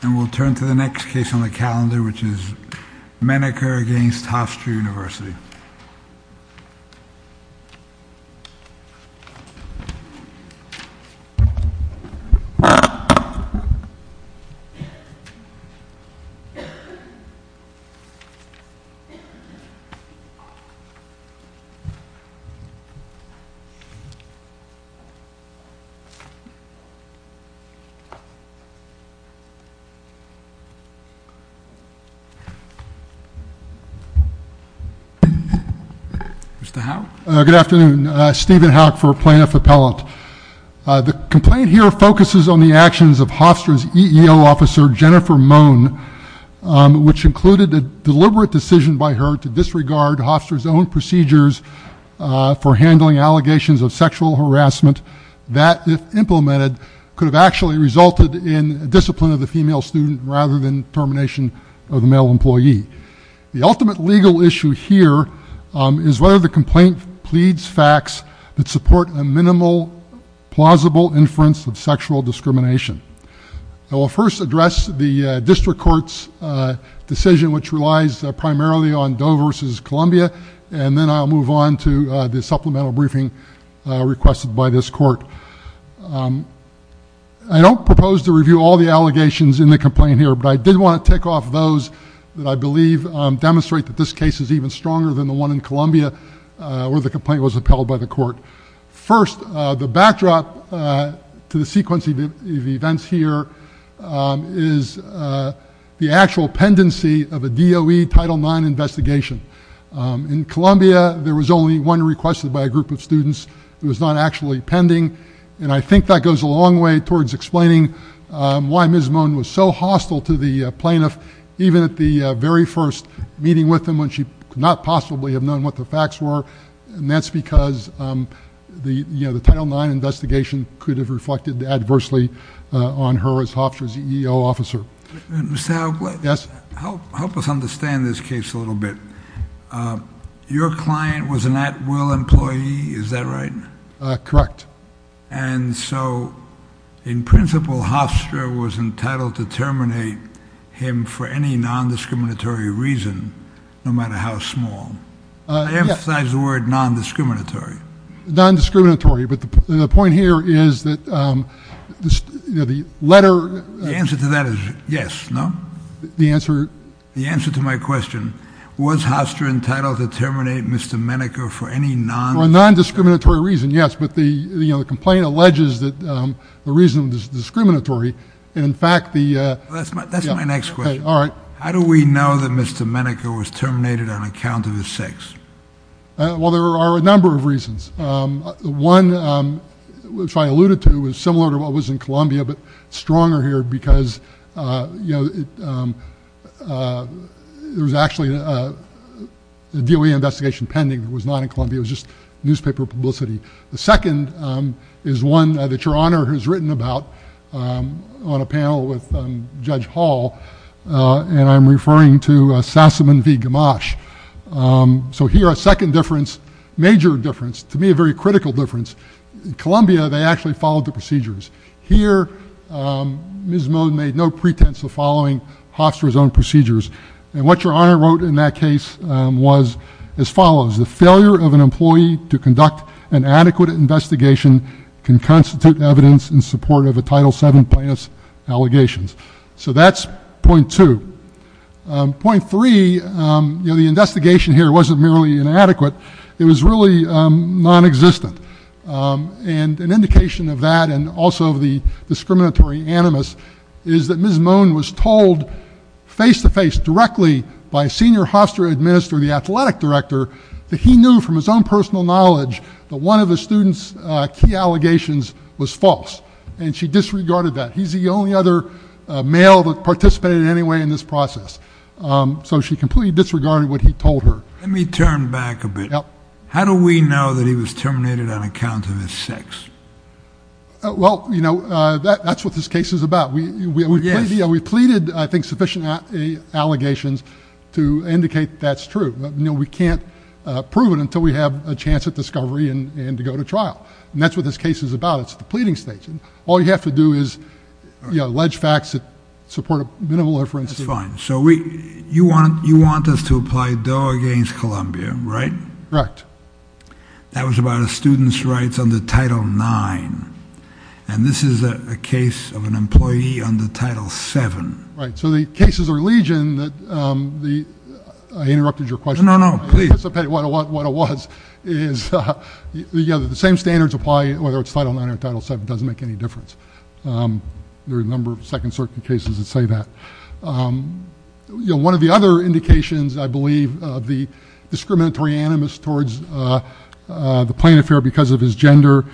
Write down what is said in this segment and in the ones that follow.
And we'll turn to the next case on the calendar, which is Maneker against Hofstra University. Mr. Howe. Good afternoon, Stephen Howe for Plaintiff Appellate. The complaint here focuses on the actions of Hofstra's EEO officer, Jennifer Mohn, which included a deliberate decision by her to disregard Hofstra's own procedures for handling allegations of sexual harassment that, if implemented, could have actually resulted in discipline of the female student rather than termination of the male employee. The ultimate legal issue here is whether the complaint pleads facts that support a minimal, plausible inference of sexual discrimination. I will first address the district court's decision, which relies primarily on Doe v. Columbia, and then I'll move on to the supplemental briefing requested by this court. I don't propose to review all the allegations in the complaint here, but I did want to tick off those that I believe demonstrate that this case is even stronger than the one in Columbia, where the complaint was upheld by the court. First, the backdrop to the sequence of events here is the actual pendency of a Doe Title IX investigation. In Columbia, there was only one requested by a group of students. It was not actually pending, and I think that goes a long way towards explaining why Ms. Mohn was so hostile to the plaintiff, even at the very first meeting with him when she could not possibly have known what the facts were, and that's because the Title IX investigation could have reflected adversely on her as Hofstra's EEO officer. Mr. Howe, help us understand this case a little bit. Your client was an at-will employee, is that right? Correct. And so, in principle, Hofstra was entitled to terminate him for any nondiscriminatory reason, no matter how small. I emphasize the word nondiscriminatory. Nondiscriminatory, but the point here is that the letter- The answer to that is yes, no? The answer- The answer to my question, was Hofstra entitled to terminate Mr. Menneker for any nondiscriminatory- For a nondiscriminatory reason, yes, but the complaint alleges that the reason was discriminatory, and in fact the- That's my next question. All right. How do we know that Mr. Menneker was terminated on account of his sex? Well, there are a number of reasons. One, which I alluded to, is similar to what was in Columbia, but stronger here because, you know, there was actually a DOE investigation pending that was not in Columbia. It was just newspaper publicity. The second is one that Your Honor has written about on a panel with Judge Hall, and I'm referring to Sassaman v. Gamache. So here, a second difference, major difference, to me a very critical difference. In Columbia, they actually followed the procedures. Here, Ms. Moen made no pretense of following Hofstra's own procedures, and what Your Honor wrote in that case was as follows. The failure of an employee to conduct an adequate investigation can constitute evidence in support of a Title VII plaintiff's allegations. So that's point two. Point three, you know, the investigation here wasn't merely inadequate. It was really nonexistent. And an indication of that and also of the discriminatory animus is that Ms. Moen was told face-to-face, directly by Senior Hofstra Administrator, the Athletic Director, that he knew from his own personal knowledge that one of the student's key allegations was false. And she disregarded that. He's the only other male that participated in any way in this process. So she completely disregarded what he told her. Let me turn back a bit. Yep. How do we know that he was terminated on account of his sex? Well, you know, that's what this case is about. Yes. We pleaded, I think, sufficient allegations to indicate that's true. You know, we can't prove it until we have a chance at discovery and to go to trial. And that's what this case is about. It's the pleading stage. All you have to do is, you know, allege facts that support a minimal inference. That's fine. So you want us to apply Doe against Columbia, right? Correct. That was about a student's rights under Title IX. And this is a case of an employee under Title VII. Right. So the cases of legion that the ‑‑ I interrupted your question. No, no, please. I anticipated what it was. The same standards apply whether it's Title IX or Title VII. It doesn't make any difference. There are a number of Second Circuit cases that say that. You know, one of the other indications, I believe, of the discriminatory animus towards the plaintiff here because of his gender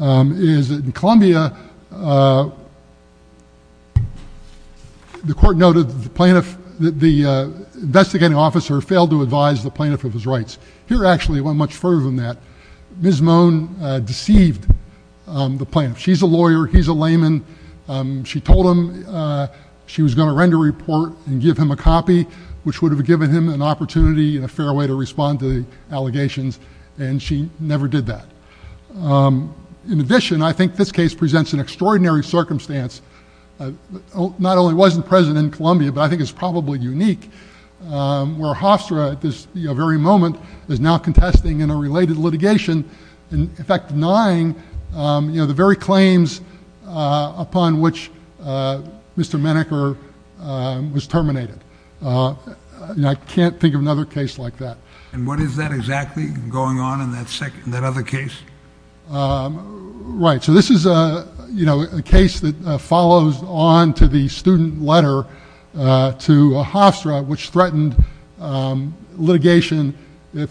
is that in Columbia, the court noted that the investigating officer failed to advise the plaintiff of his rights. Here, actually, it went much further than that. Ms. Moan deceived the plaintiff. She's a lawyer. He's a layman. She told him she was going to render a report and give him a copy, which would have given him an opportunity and a fair way to respond to the allegations, and she never did that. In addition, I think this case presents an extraordinary circumstance. Not only was it present in Columbia, but I think it's probably unique, where Hofstra at this very moment is now contesting in a related litigation, in fact denying the very claims upon which Mr. Menneker was terminated. I can't think of another case like that. And what is that exactly going on in that other case? Right. So this is a case that follows on to the student letter to Hofstra, which threatened litigation if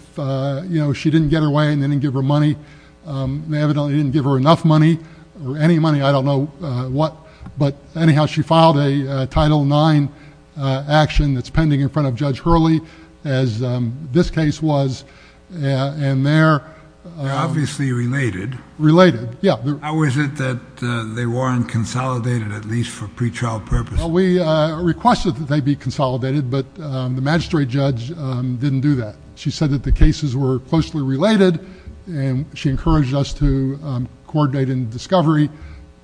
she didn't get her way and they didn't give her money. They evidently didn't give her enough money or any money. I don't know what. But anyhow, she filed a Title IX action that's pending in front of Judge Hurley, as this case was. And they're obviously related. Related, yeah. How is it that they weren't consolidated, at least for pretrial purposes? Well, we requested that they be consolidated, but the magistrate judge didn't do that. She said that the cases were closely related, and she encouraged us to coordinate in discovery,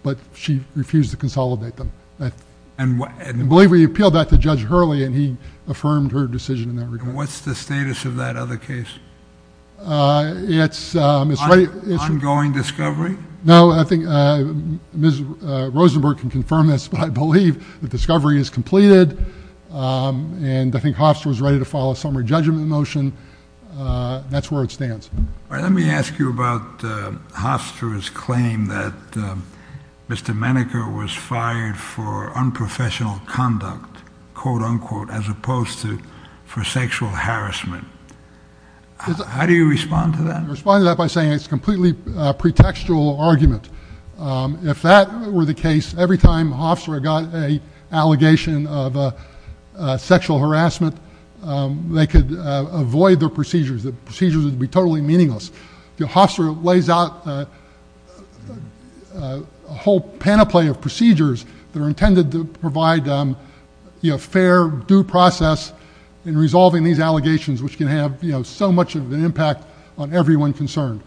but she refused to consolidate them. I believe we appealed that to Judge Hurley, and he affirmed her decision in that regard. And what's the status of that other case? It's right. Ongoing discovery? No, I think Ms. Rosenberg can confirm this, but I believe the discovery is completed, and I think Hofstra was ready to file a summary judgment motion. That's where it stands. All right. Let me ask you about Hofstra's claim that Mr. Menneker was fired for unprofessional conduct, quote, unquote, as opposed to for sexual harassment. How do you respond to that? I respond to that by saying it's a completely pretextual argument. If that were the case, every time Hofstra got an allegation of sexual harassment, they could avoid their procedures. The procedures would be totally meaningless. Hofstra lays out a whole panoply of procedures that are intended to provide fair, due process in resolving these allegations, which can have so much of an impact on everyone concerned.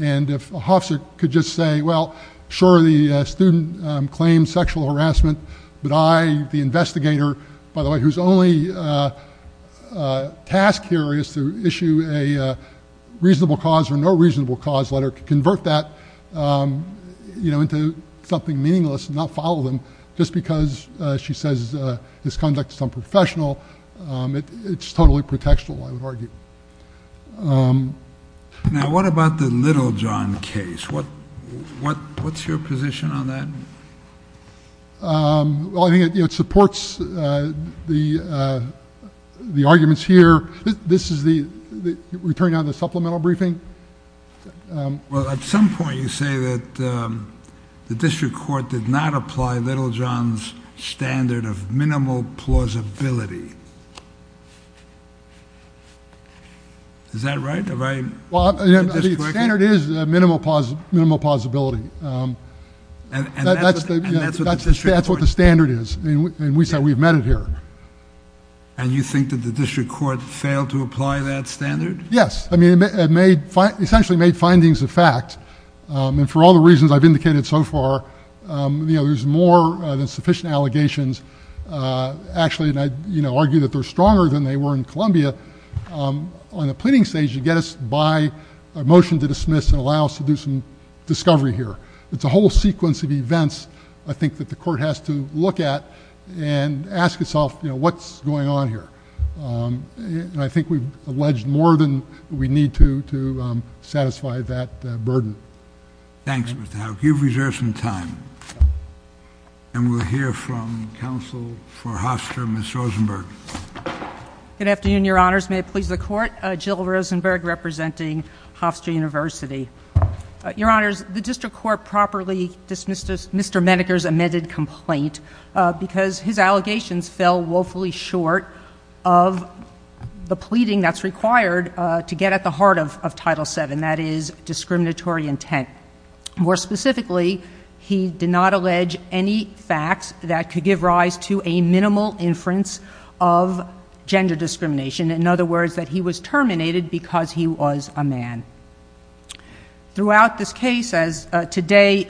And if Hofstra could just say, well, sure, the student claims sexual harassment, but I, the investigator, by the way, whose only task here is to issue a reasonable cause or no reasonable cause letter, could convert that into something meaningless and not follow them just because she says his conduct is unprofessional. It's totally pretextual, I would argue. Now, what about the Littlejohn case? What's your position on that? Well, I think it supports the arguments here. This is the return on the supplemental briefing. Well, at some point you say that the district court did not apply Littlejohn's standard of minimal plausibility. Is that right? The standard is minimal plausibility. That's what the standard is, and we've met it here. And you think that the district court failed to apply that standard? Yes. I mean, it essentially made findings of fact. And for all the reasons I've indicated so far, there's more than sufficient allegations. Actually, and I argue that they're stronger than they were in Columbia. On the pleading stage, you get us by a motion to dismiss and allow us to do some discovery here. It's a whole sequence of events, I think, that the court has to look at and ask itself what's going on here. And I think we've alleged more than we need to to satisfy that burden. Thanks, Mr. Houck. You've reserved some time. And we'll hear from counsel for Hofstra, Ms. Rosenberg. Good afternoon, Your Honors. May it please the Court. Jill Rosenberg, representing Hofstra University. Your Honors, the district court properly dismissed Mr. Medeker's amended complaint because his allegations fell woefully short of the pleading that's required to get at the heart of Title VII, that is, discriminatory intent. More specifically, he did not allege any facts that could give rise to a minimal inference of gender discrimination. In other words, that he was terminated because he was a man. Throughout this case, as today,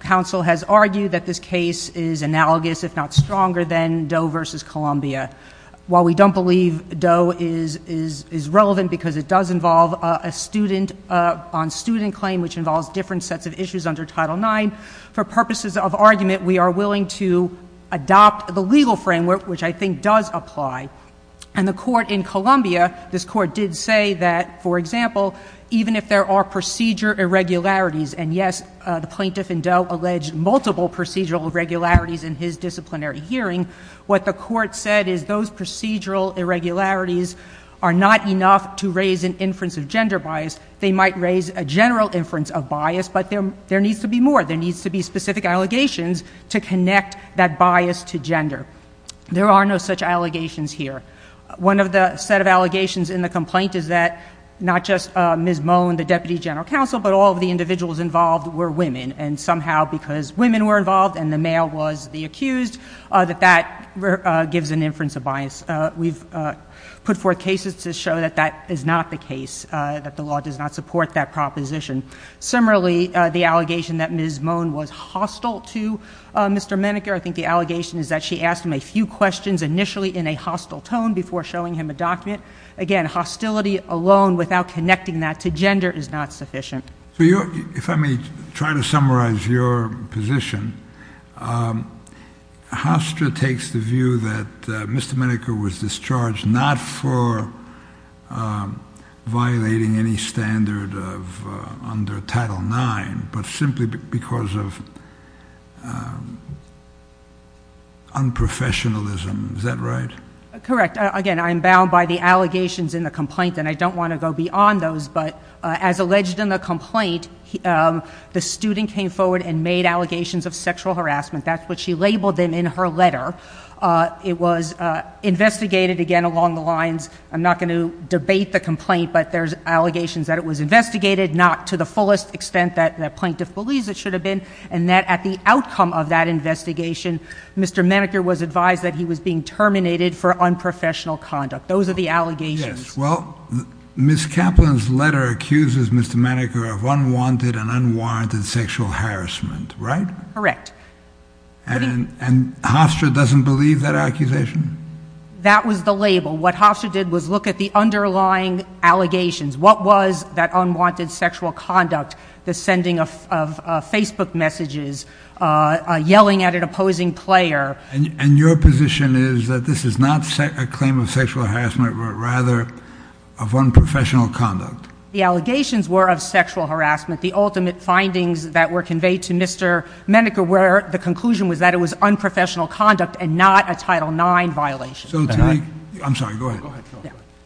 counsel has argued that this case is analogous, if not stronger, than Doe v. Columbia. While we don't believe Doe is relevant because it does involve a student on student claim, which involves different sets of issues under Title IX, for purposes of argument, we are willing to adopt the legal framework, which I think does apply. And the court in Columbia, this court did say that, for example, even if there are procedure irregularities, and yes, the plaintiff in Doe alleged multiple procedural irregularities in his disciplinary hearing, what the court said is those procedural irregularities are not enough to raise an inference of gender bias. They might raise a general inference of bias, but there needs to be more. There needs to be specific allegations to connect that bias to gender. There are no such allegations here. One of the set of allegations in the complaint is that not just Ms. Moen, the Deputy General Counsel, but all of the individuals involved were women. And somehow, because women were involved and the male was the accused, that that gives an inference of bias. We've put forth cases to show that that is not the case, that the law does not support that proposition. Similarly, the allegation that Ms. Moen was hostile to Mr. Meneker, I think the allegation is that she asked him a few questions initially in a hostile tone before showing him a document. Again, hostility alone without connecting that to gender is not sufficient. So if I may try to summarize your position, Hofstra takes the view that Mr. Meneker was discharged not for violating any standard under Title IX, but simply because of unprofessionalism. Is that right? Correct. Again, I'm bound by the allegations in the complaint, and I don't want to go beyond those. But as alleged in the complaint, the student came forward and made allegations of sexual harassment. That's what she labeled them in her letter. It was investigated again along the lines—I'm not going to debate the complaint, but there's allegations that it was investigated, not to the fullest extent that the plaintiff believes it should have been, and that at the outcome of that investigation, Mr. Meneker was advised that he was being terminated for unprofessional conduct. Those are the allegations. Yes. Well, Ms. Kaplan's letter accuses Mr. Meneker of unwanted and unwarranted sexual harassment, right? Correct. And Hofstra doesn't believe that accusation? That was the label. What Hofstra did was look at the underlying allegations. What was that unwanted sexual conduct? The sending of Facebook messages, yelling at an opposing player. And your position is that this is not a claim of sexual harassment, but rather of unprofessional conduct? The allegations were of sexual harassment. The ultimate findings that were conveyed to Mr. Meneker were the conclusion was that it was unprofessional conduct and not a Title IX violation. I'm sorry, go ahead.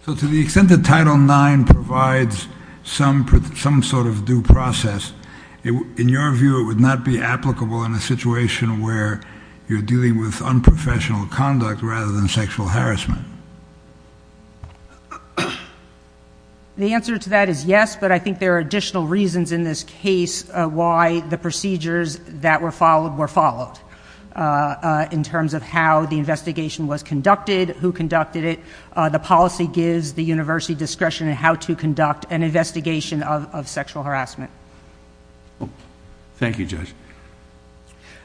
So to the extent that Title IX provides some sort of due process, in your view, it would not be applicable in a situation where you're dealing with unprofessional conduct rather than sexual harassment? The answer to that is yes, but I think there are additional reasons in this case why the procedures that were followed were followed, in terms of how the investigation was conducted, who conducted it. The policy gives the university discretion in how to conduct an investigation of sexual harassment. Thank you, Judge.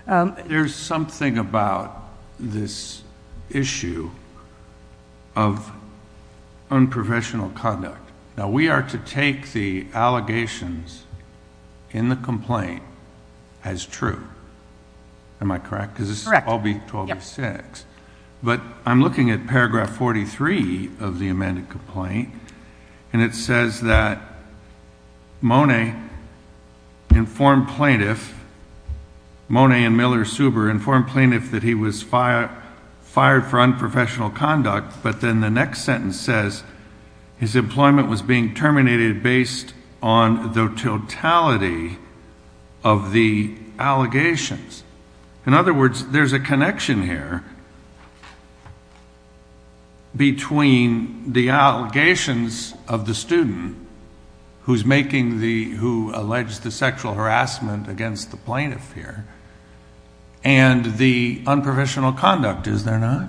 There's something about this issue of unprofessional conduct. Now, we are to take the allegations in the complaint as true. Am I correct? Correct. Because this is 12-6. But I'm looking at paragraph 43 of the amended complaint, and it says that Mone informed plaintiff, Mone and Miller-Suber informed plaintiff that he was fired for unprofessional conduct, but then the next sentence says his employment was being terminated based on the totality of the allegations. In other words, there's a connection here between the allegations of the student who's making the, who alleged the sexual harassment against the plaintiff here and the unprofessional conduct, is there not?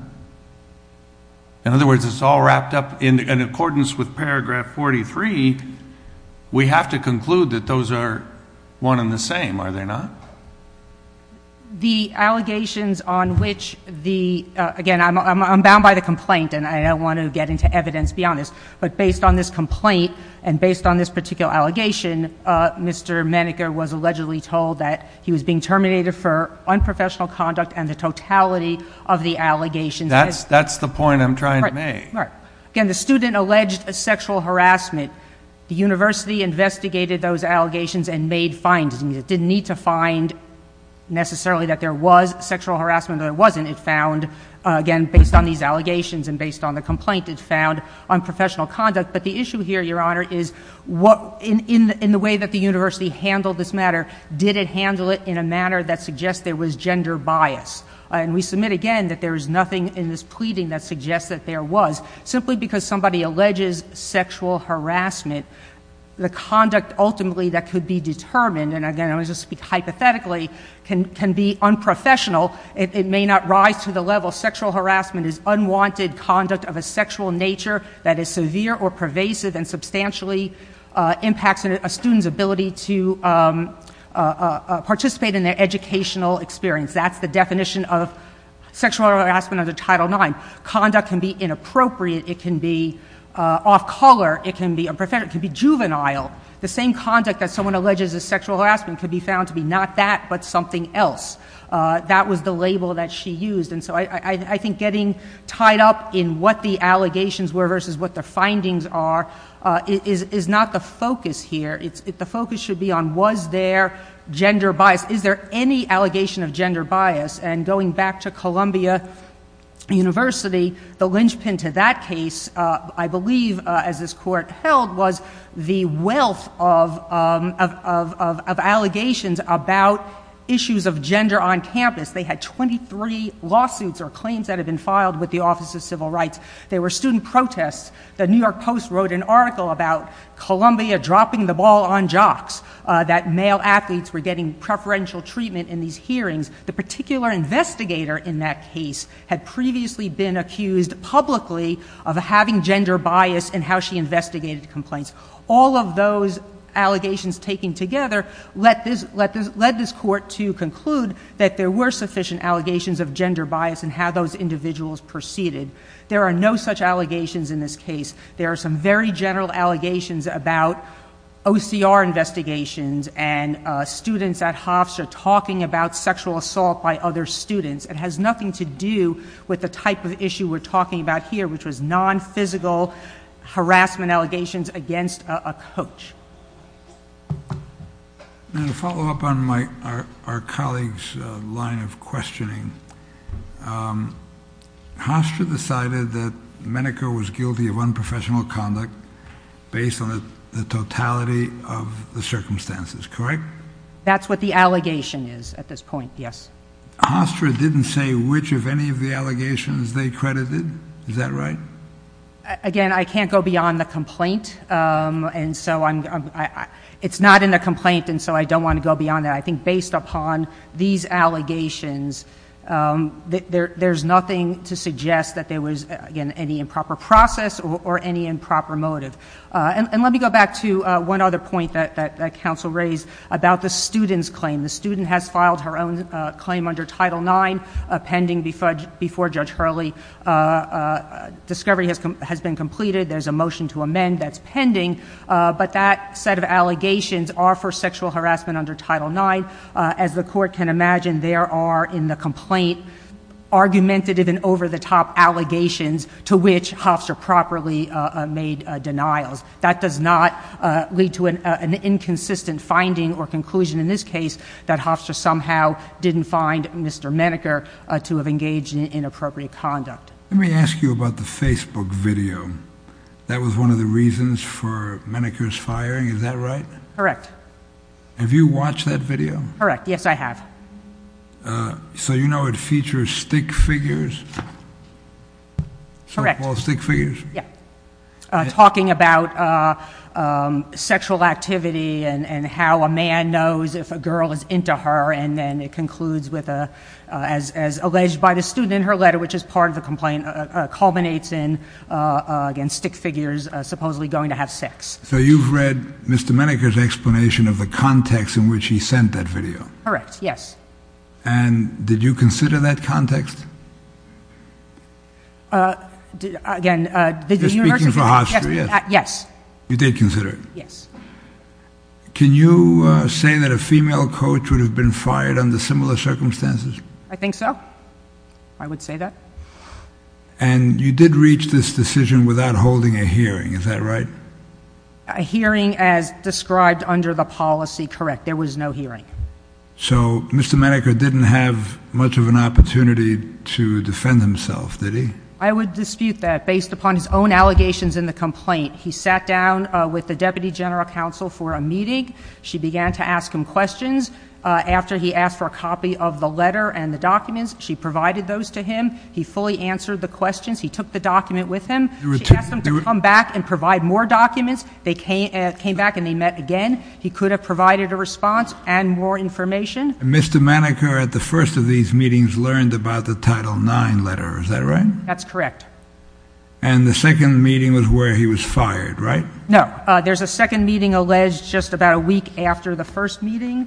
In other words, it's all wrapped up in accordance with paragraph 43. We have to conclude that those are one and the same, are they not? The allegations on which the, again, I'm bound by the complaint, and I don't want to get into evidence beyond this, but based on this complaint and based on this particular allegation, Mr. Menneker was allegedly told that he was being terminated for unprofessional conduct and the totality of the allegations. That's the point I'm trying to make. Again, the student alleged sexual harassment. The university investigated those allegations and made findings. It didn't need to find necessarily that there was sexual harassment or there wasn't. It found, again, based on these allegations and based on the complaint, it found unprofessional conduct. But the issue here, Your Honor, is what, in the way that the university handled this matter, did it handle it in a manner that suggests there was gender bias? And we submit again that there is nothing in this pleading that suggests that there was. Simply because somebody alleges sexual harassment, the conduct ultimately that could be determined, and again, I'm just going to speak hypothetically, can be unprofessional, it may not rise to the level. Sexual harassment is unwanted conduct of a sexual nature that is severe or pervasive and substantially impacts a student's ability to participate in their educational experience. That's the definition of sexual harassment under Title IX. Conduct can be inappropriate. It can be off-color. It can be unprofessional. It can be juvenile. The same conduct that someone alleges as sexual harassment could be found to be not that but something else. That was the label that she used. And so I think getting tied up in what the allegations were versus what the findings are is not the focus here. The focus should be on was there gender bias. Is there any allegation of gender bias? And going back to Columbia University, the linchpin to that case, I believe, as this court held, was the wealth of allegations about issues of gender on campus. They had 23 lawsuits or claims that had been filed with the Office of Civil Rights. There were student protests. The New York Post wrote an article about Columbia dropping the ball on jocks, that male athletes were getting preferential treatment in these hearings. The particular investigator in that case had previously been accused publicly of having gender bias and how she investigated the complaints. All of those allegations taken together led this court to conclude that there were sufficient allegations of gender bias and how those individuals proceeded. There are no such allegations in this case. There are some very general allegations about OCR investigations and students at Hofstra talking about sexual assault by other students. It has nothing to do with the type of issue we're talking about here, which was non-physical harassment allegations against a coach. To follow up on our colleague's line of questioning, Hofstra decided that Menneker was guilty of unprofessional conduct based on the totality of the circumstances, correct? That's what the allegation is at this point, yes. Hofstra didn't say which of any of the allegations they credited, is that right? Again, I can't go beyond the complaint. It's not in the complaint, and so I don't want to go beyond that. I think based upon these allegations, there's nothing to suggest that there was, again, any improper process or any improper motive. And let me go back to one other point that counsel raised about the student's claim. The student has filed her own claim under Title IX pending before Judge Hurley. Discovery has been completed. There's a motion to amend that's pending, but that set of allegations are for sexual harassment under Title IX. As the court can imagine, there are, in the complaint, argumentative and over-the-top allegations to which Hofstra properly made denials. That does not lead to an inconsistent finding or conclusion in this case that Hofstra somehow didn't find Mr. Menneker to have engaged in inappropriate conduct. Let me ask you about the Facebook video. That was one of the reasons for Menneker's firing, is that right? Correct. Have you watched that video? Correct. Yes, I have. So you know it features stick figures? Correct. Softball stick figures? Yeah. Talking about sexual activity and how a man knows if a girl is into her, and then it concludes with, as alleged by the student in her letter, which is part of the complaint, culminates in, again, stick figures supposedly going to have sex. So you've read Mr. Menneker's explanation of the context in which he sent that video? Correct. Yes. And did you consider that context? Again, the university— You're speaking for Hofstra, yes? Yes. You did consider it? Yes. Can you say that a female coach would have been fired under similar circumstances? I think so. I would say that. And you did reach this decision without holding a hearing, is that right? A hearing as described under the policy, correct. There was no hearing. So Mr. Menneker didn't have much of an opportunity to defend himself, did he? I would dispute that. Based upon his own allegations in the complaint, he sat down with the Deputy General Counsel for a meeting. She began to ask him questions. After he asked for a copy of the letter and the documents, she provided those to him. He fully answered the questions. He took the document with him. She asked him to come back and provide more documents. They came back and they met again. He could have provided a response and more information. Mr. Menneker, at the first of these meetings, learned about the Title IX letter, is that right? That's correct. And the second meeting was where he was fired, right? No. There's a second meeting alleged just about a week after the first meeting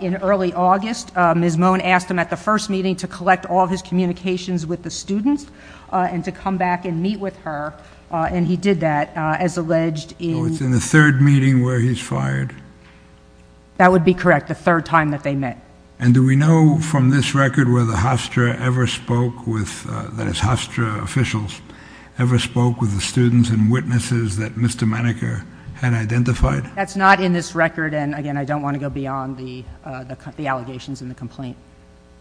in early August. Ms. Moen asked him at the first meeting to collect all of his communications with the students and to come back and meet with her, and he did that, as alleged. So it's in the third meeting where he's fired? That would be correct, the third time that they met. And do we know from this record whether Hofstra ever spoke with, that is Hofstra officials, ever spoke with the students and witnesses that Mr. Menneker had identified? That's not in this record, and again, I don't want to go beyond the allegations and the complaint.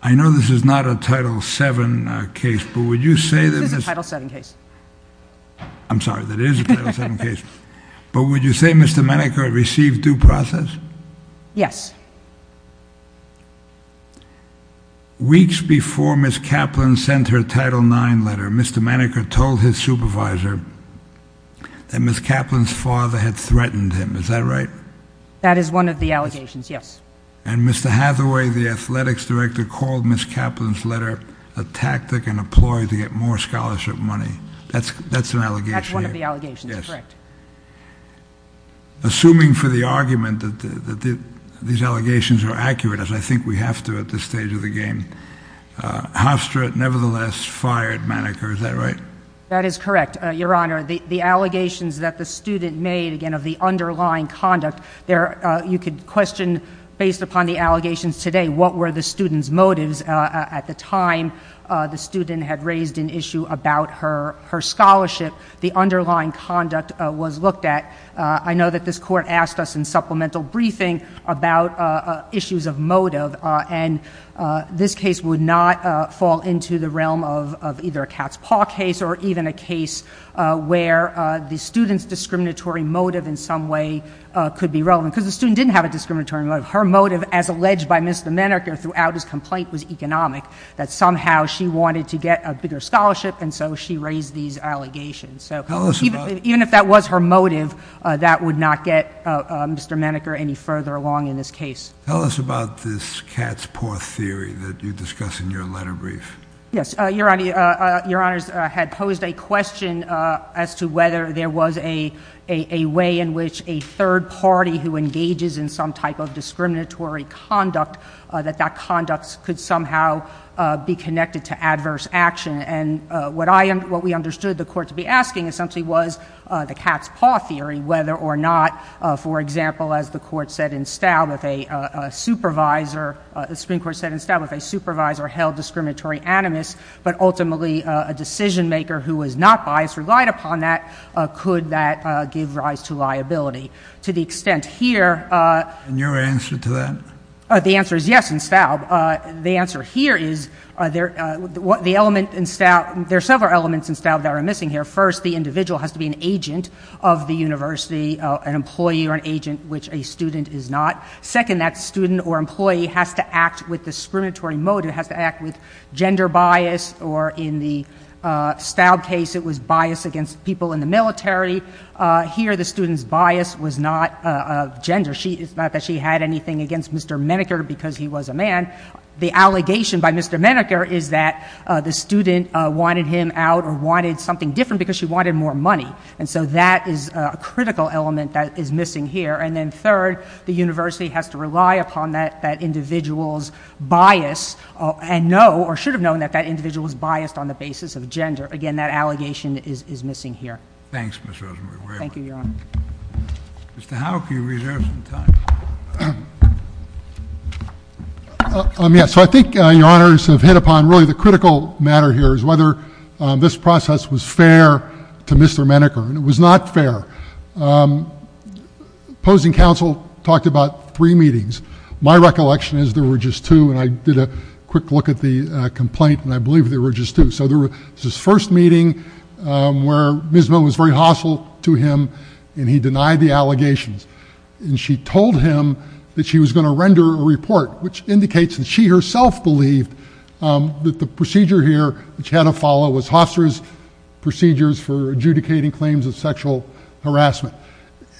I know this is not a Title VII case, but would you say that this... This is a Title VII case. I'm sorry, that is a Title VII case. But would you say Mr. Menneker received due process? Yes. Weeks before Ms. Kaplan sent her Title IX letter, Mr. Menneker told his supervisor that Ms. Kaplan's father had threatened him, is that right? That is one of the allegations, yes. And Mr. Hathaway, the athletics director, called Ms. Kaplan's letter a tactic and a ploy to get more scholarship money. That's an allegation. That's one of the allegations, correct. Assuming for the argument that these allegations are accurate, as I think we have to at this stage of the game, Hofstra nevertheless fired Menneker, is that right? That is correct, Your Honor. The allegations that the student made, again, of the underlying conduct, you could question based upon the allegations today what were the student's motives. At the time, the student had raised an issue about her scholarship. The underlying conduct was looked at. I know that this Court asked us in supplemental briefing about issues of motive, and this case would not fall into the realm of either a cat's paw case or even a case where the student's discriminatory motive in some way could be relevant, because the student didn't have a discriminatory motive. Her motive, as alleged by Mr. Menneker throughout his complaint, was economic, that somehow she wanted to get a bigger scholarship, and so she raised these allegations. So even if that was her motive, that would not get Mr. Menneker any further along in this case. Tell us about this cat's paw theory that you discuss in your letter brief. Yes. Your Honor, Your Honors had posed a question as to whether there was a way in which a third party who engages in some type of discriminatory conduct, that that conduct could somehow be connected to adverse action. And what we understood the Court to be asking essentially was the cat's paw theory, whether or not, for example, as the Supreme Court said in Staub, if a supervisor held discriminatory animus, but ultimately a decision-maker who was not biased relied upon that, could that give rise to liability. To the extent here— And your answer to that? The answer is yes in Staub. The answer here is there are several elements in Staub that are missing here. First, the individual has to be an agent of the university, an employee or an agent, which a student is not. Second, that student or employee has to act with discriminatory motive, has to act with gender bias, or in the Staub case it was bias against people in the military. Here the student's bias was not of gender. It's not that she had anything against Mr. Menneker because he was a man. The allegation by Mr. Menneker is that the student wanted him out or wanted something different because she wanted more money. And so that is a critical element that is missing here. And then third, the university has to rely upon that individual's bias and know or should have known that that individual is biased on the basis of gender. Again, that allegation is missing here. Thanks, Ms. Rosenberg. Thank you, Your Honor. Mr. Howell, can you reserve some time? Yes, so I think Your Honors have hit upon really the critical matter here is whether this process was fair to Mr. Menneker, and it was not fair. Opposing counsel talked about three meetings. My recollection is there were just two, and I did a quick look at the complaint, and I believe there were just two. So there was this first meeting where Ms. Milne was very hostile to him, and he denied the allegations. And she told him that she was going to render a report, which indicates that she herself believed that the procedure here that she had to follow was Hofstra's procedures for adjudicating claims of sexual harassment.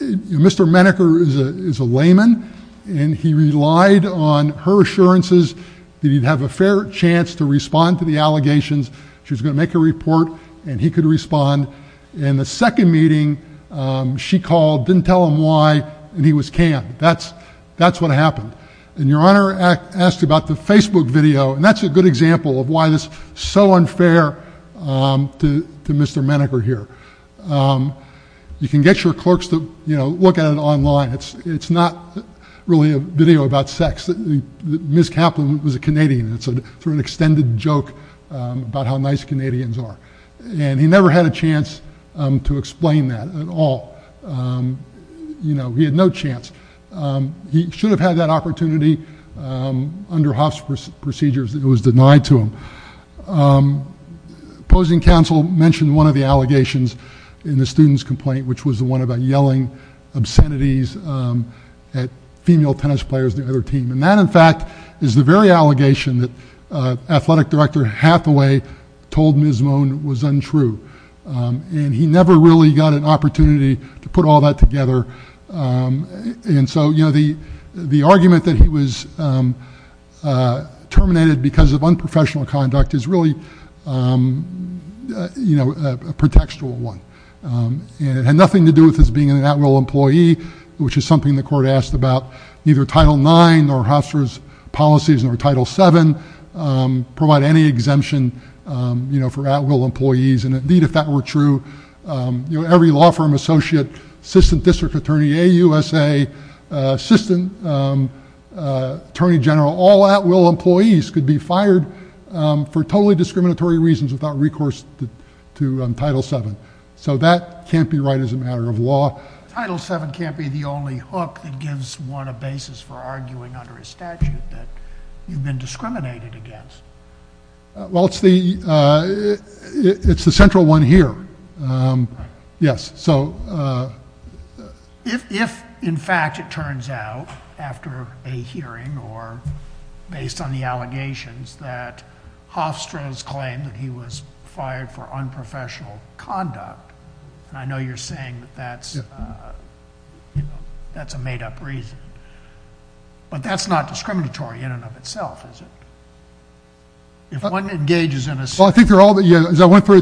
Mr. Menneker is a layman, and he relied on her assurances that he'd have a fair chance to respond to the allegations. She was going to make a report, and he could respond. In the second meeting, she called, didn't tell him why, and he was canned. That's what happened. And Your Honor asked about the Facebook video, and that's a good example of why this is so unfair to Mr. Menneker here. You can get your clerks to look at it online. It's not really a video about sex. Ms. Kaplan was a Canadian, and it's sort of an extended joke about how nice Canadians are. And he never had a chance to explain that at all. You know, he had no chance. He should have had that opportunity under Hofstra's procedures. It was denied to him. Opposing counsel mentioned one of the allegations in the student's complaint, which was the one about yelling obscenities at female tennis players on the other team. And that, in fact, is the very allegation that athletic director Hathaway told Ms. Moan was untrue. And he never really got an opportunity to put all that together. And so, you know, the argument that he was terminated because of unprofessional conduct is really, you know, a pretextual one. And it had nothing to do with his being an at-will employee, which is something the court asked about neither Title IX nor Hofstra's policies nor Title VII, provide any exemption, you know, for at-will employees. And, indeed, if that were true, you know, every law firm associate, assistant district attorney, AUSA assistant attorney general, all at-will employees could be fired for totally discriminatory reasons without recourse to Title VII. So that can't be right as a matter of law. Title VII can't be the only hook that gives one a basis for arguing under a statute that you've been discriminated against. Well, it's the central one here. Yes. So if, in fact, it turns out after a hearing or based on the allegations that Hofstra's claimed that he was fired for unprofessional conduct, and I know you're saying that that's, you know, that's a made-up reason, but that's not discriminatory in and of itself, is it? If one engages in a statute. Well, I think they're all, as I went through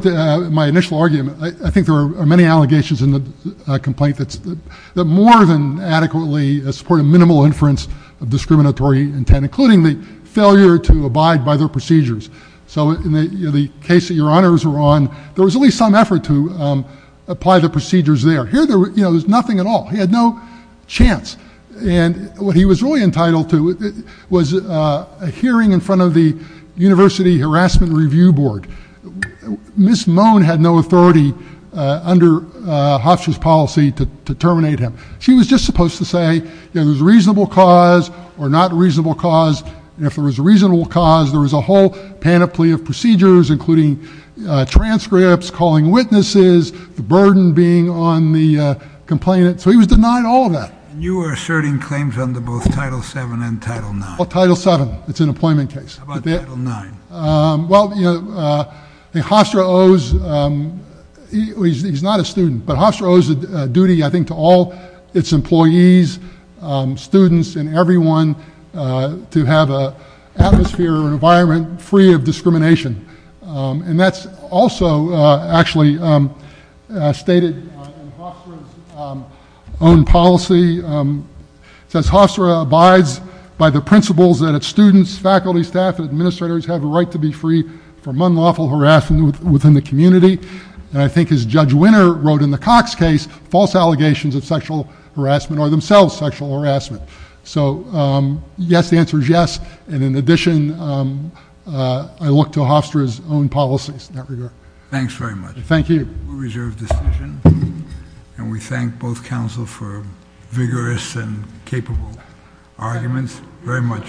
my initial argument, I think there are many allegations in the complaint that more than adequately support a minimal inference of discriminatory intent, including the failure to abide by their procedures. So in the case that your honors were on, there was at least some effort to apply the procedures there. Here, you know, there was nothing at all. He had no chance. And what he was really entitled to was a hearing in front of the University Harassment Review Board. Ms. Moan had no authority under Hofstra's policy to terminate him. She was just supposed to say, you know, there's a reasonable cause or not a reasonable cause, and if there was a reasonable cause, there was a whole panoply of procedures, including transcripts, calling witnesses, the burden being on the complainant. So he was denied all of that. And you were asserting claims under both Title VII and Title IX. Title VII. It's an employment case. How about Title IX? Well, you know, Hofstra owes, he's not a student, but Hofstra owes a duty, I think, to all its employees, students, and everyone to have an atmosphere, an environment free of discrimination. And that's also actually stated in Hofstra's own policy. It says, Hofstra abides by the principles that its students, faculty, staff, and administrators have a right to be free from unlawful harassment within the community. And I think as Judge Winner wrote in the Cox case, false allegations of sexual harassment are themselves sexual harassment. So yes, the answer is yes. And in addition, I look to Hofstra's own policies in that regard. Thanks very much. Thank you. We reserve the decision, and we thank both counsel for vigorous and capable arguments. Very much.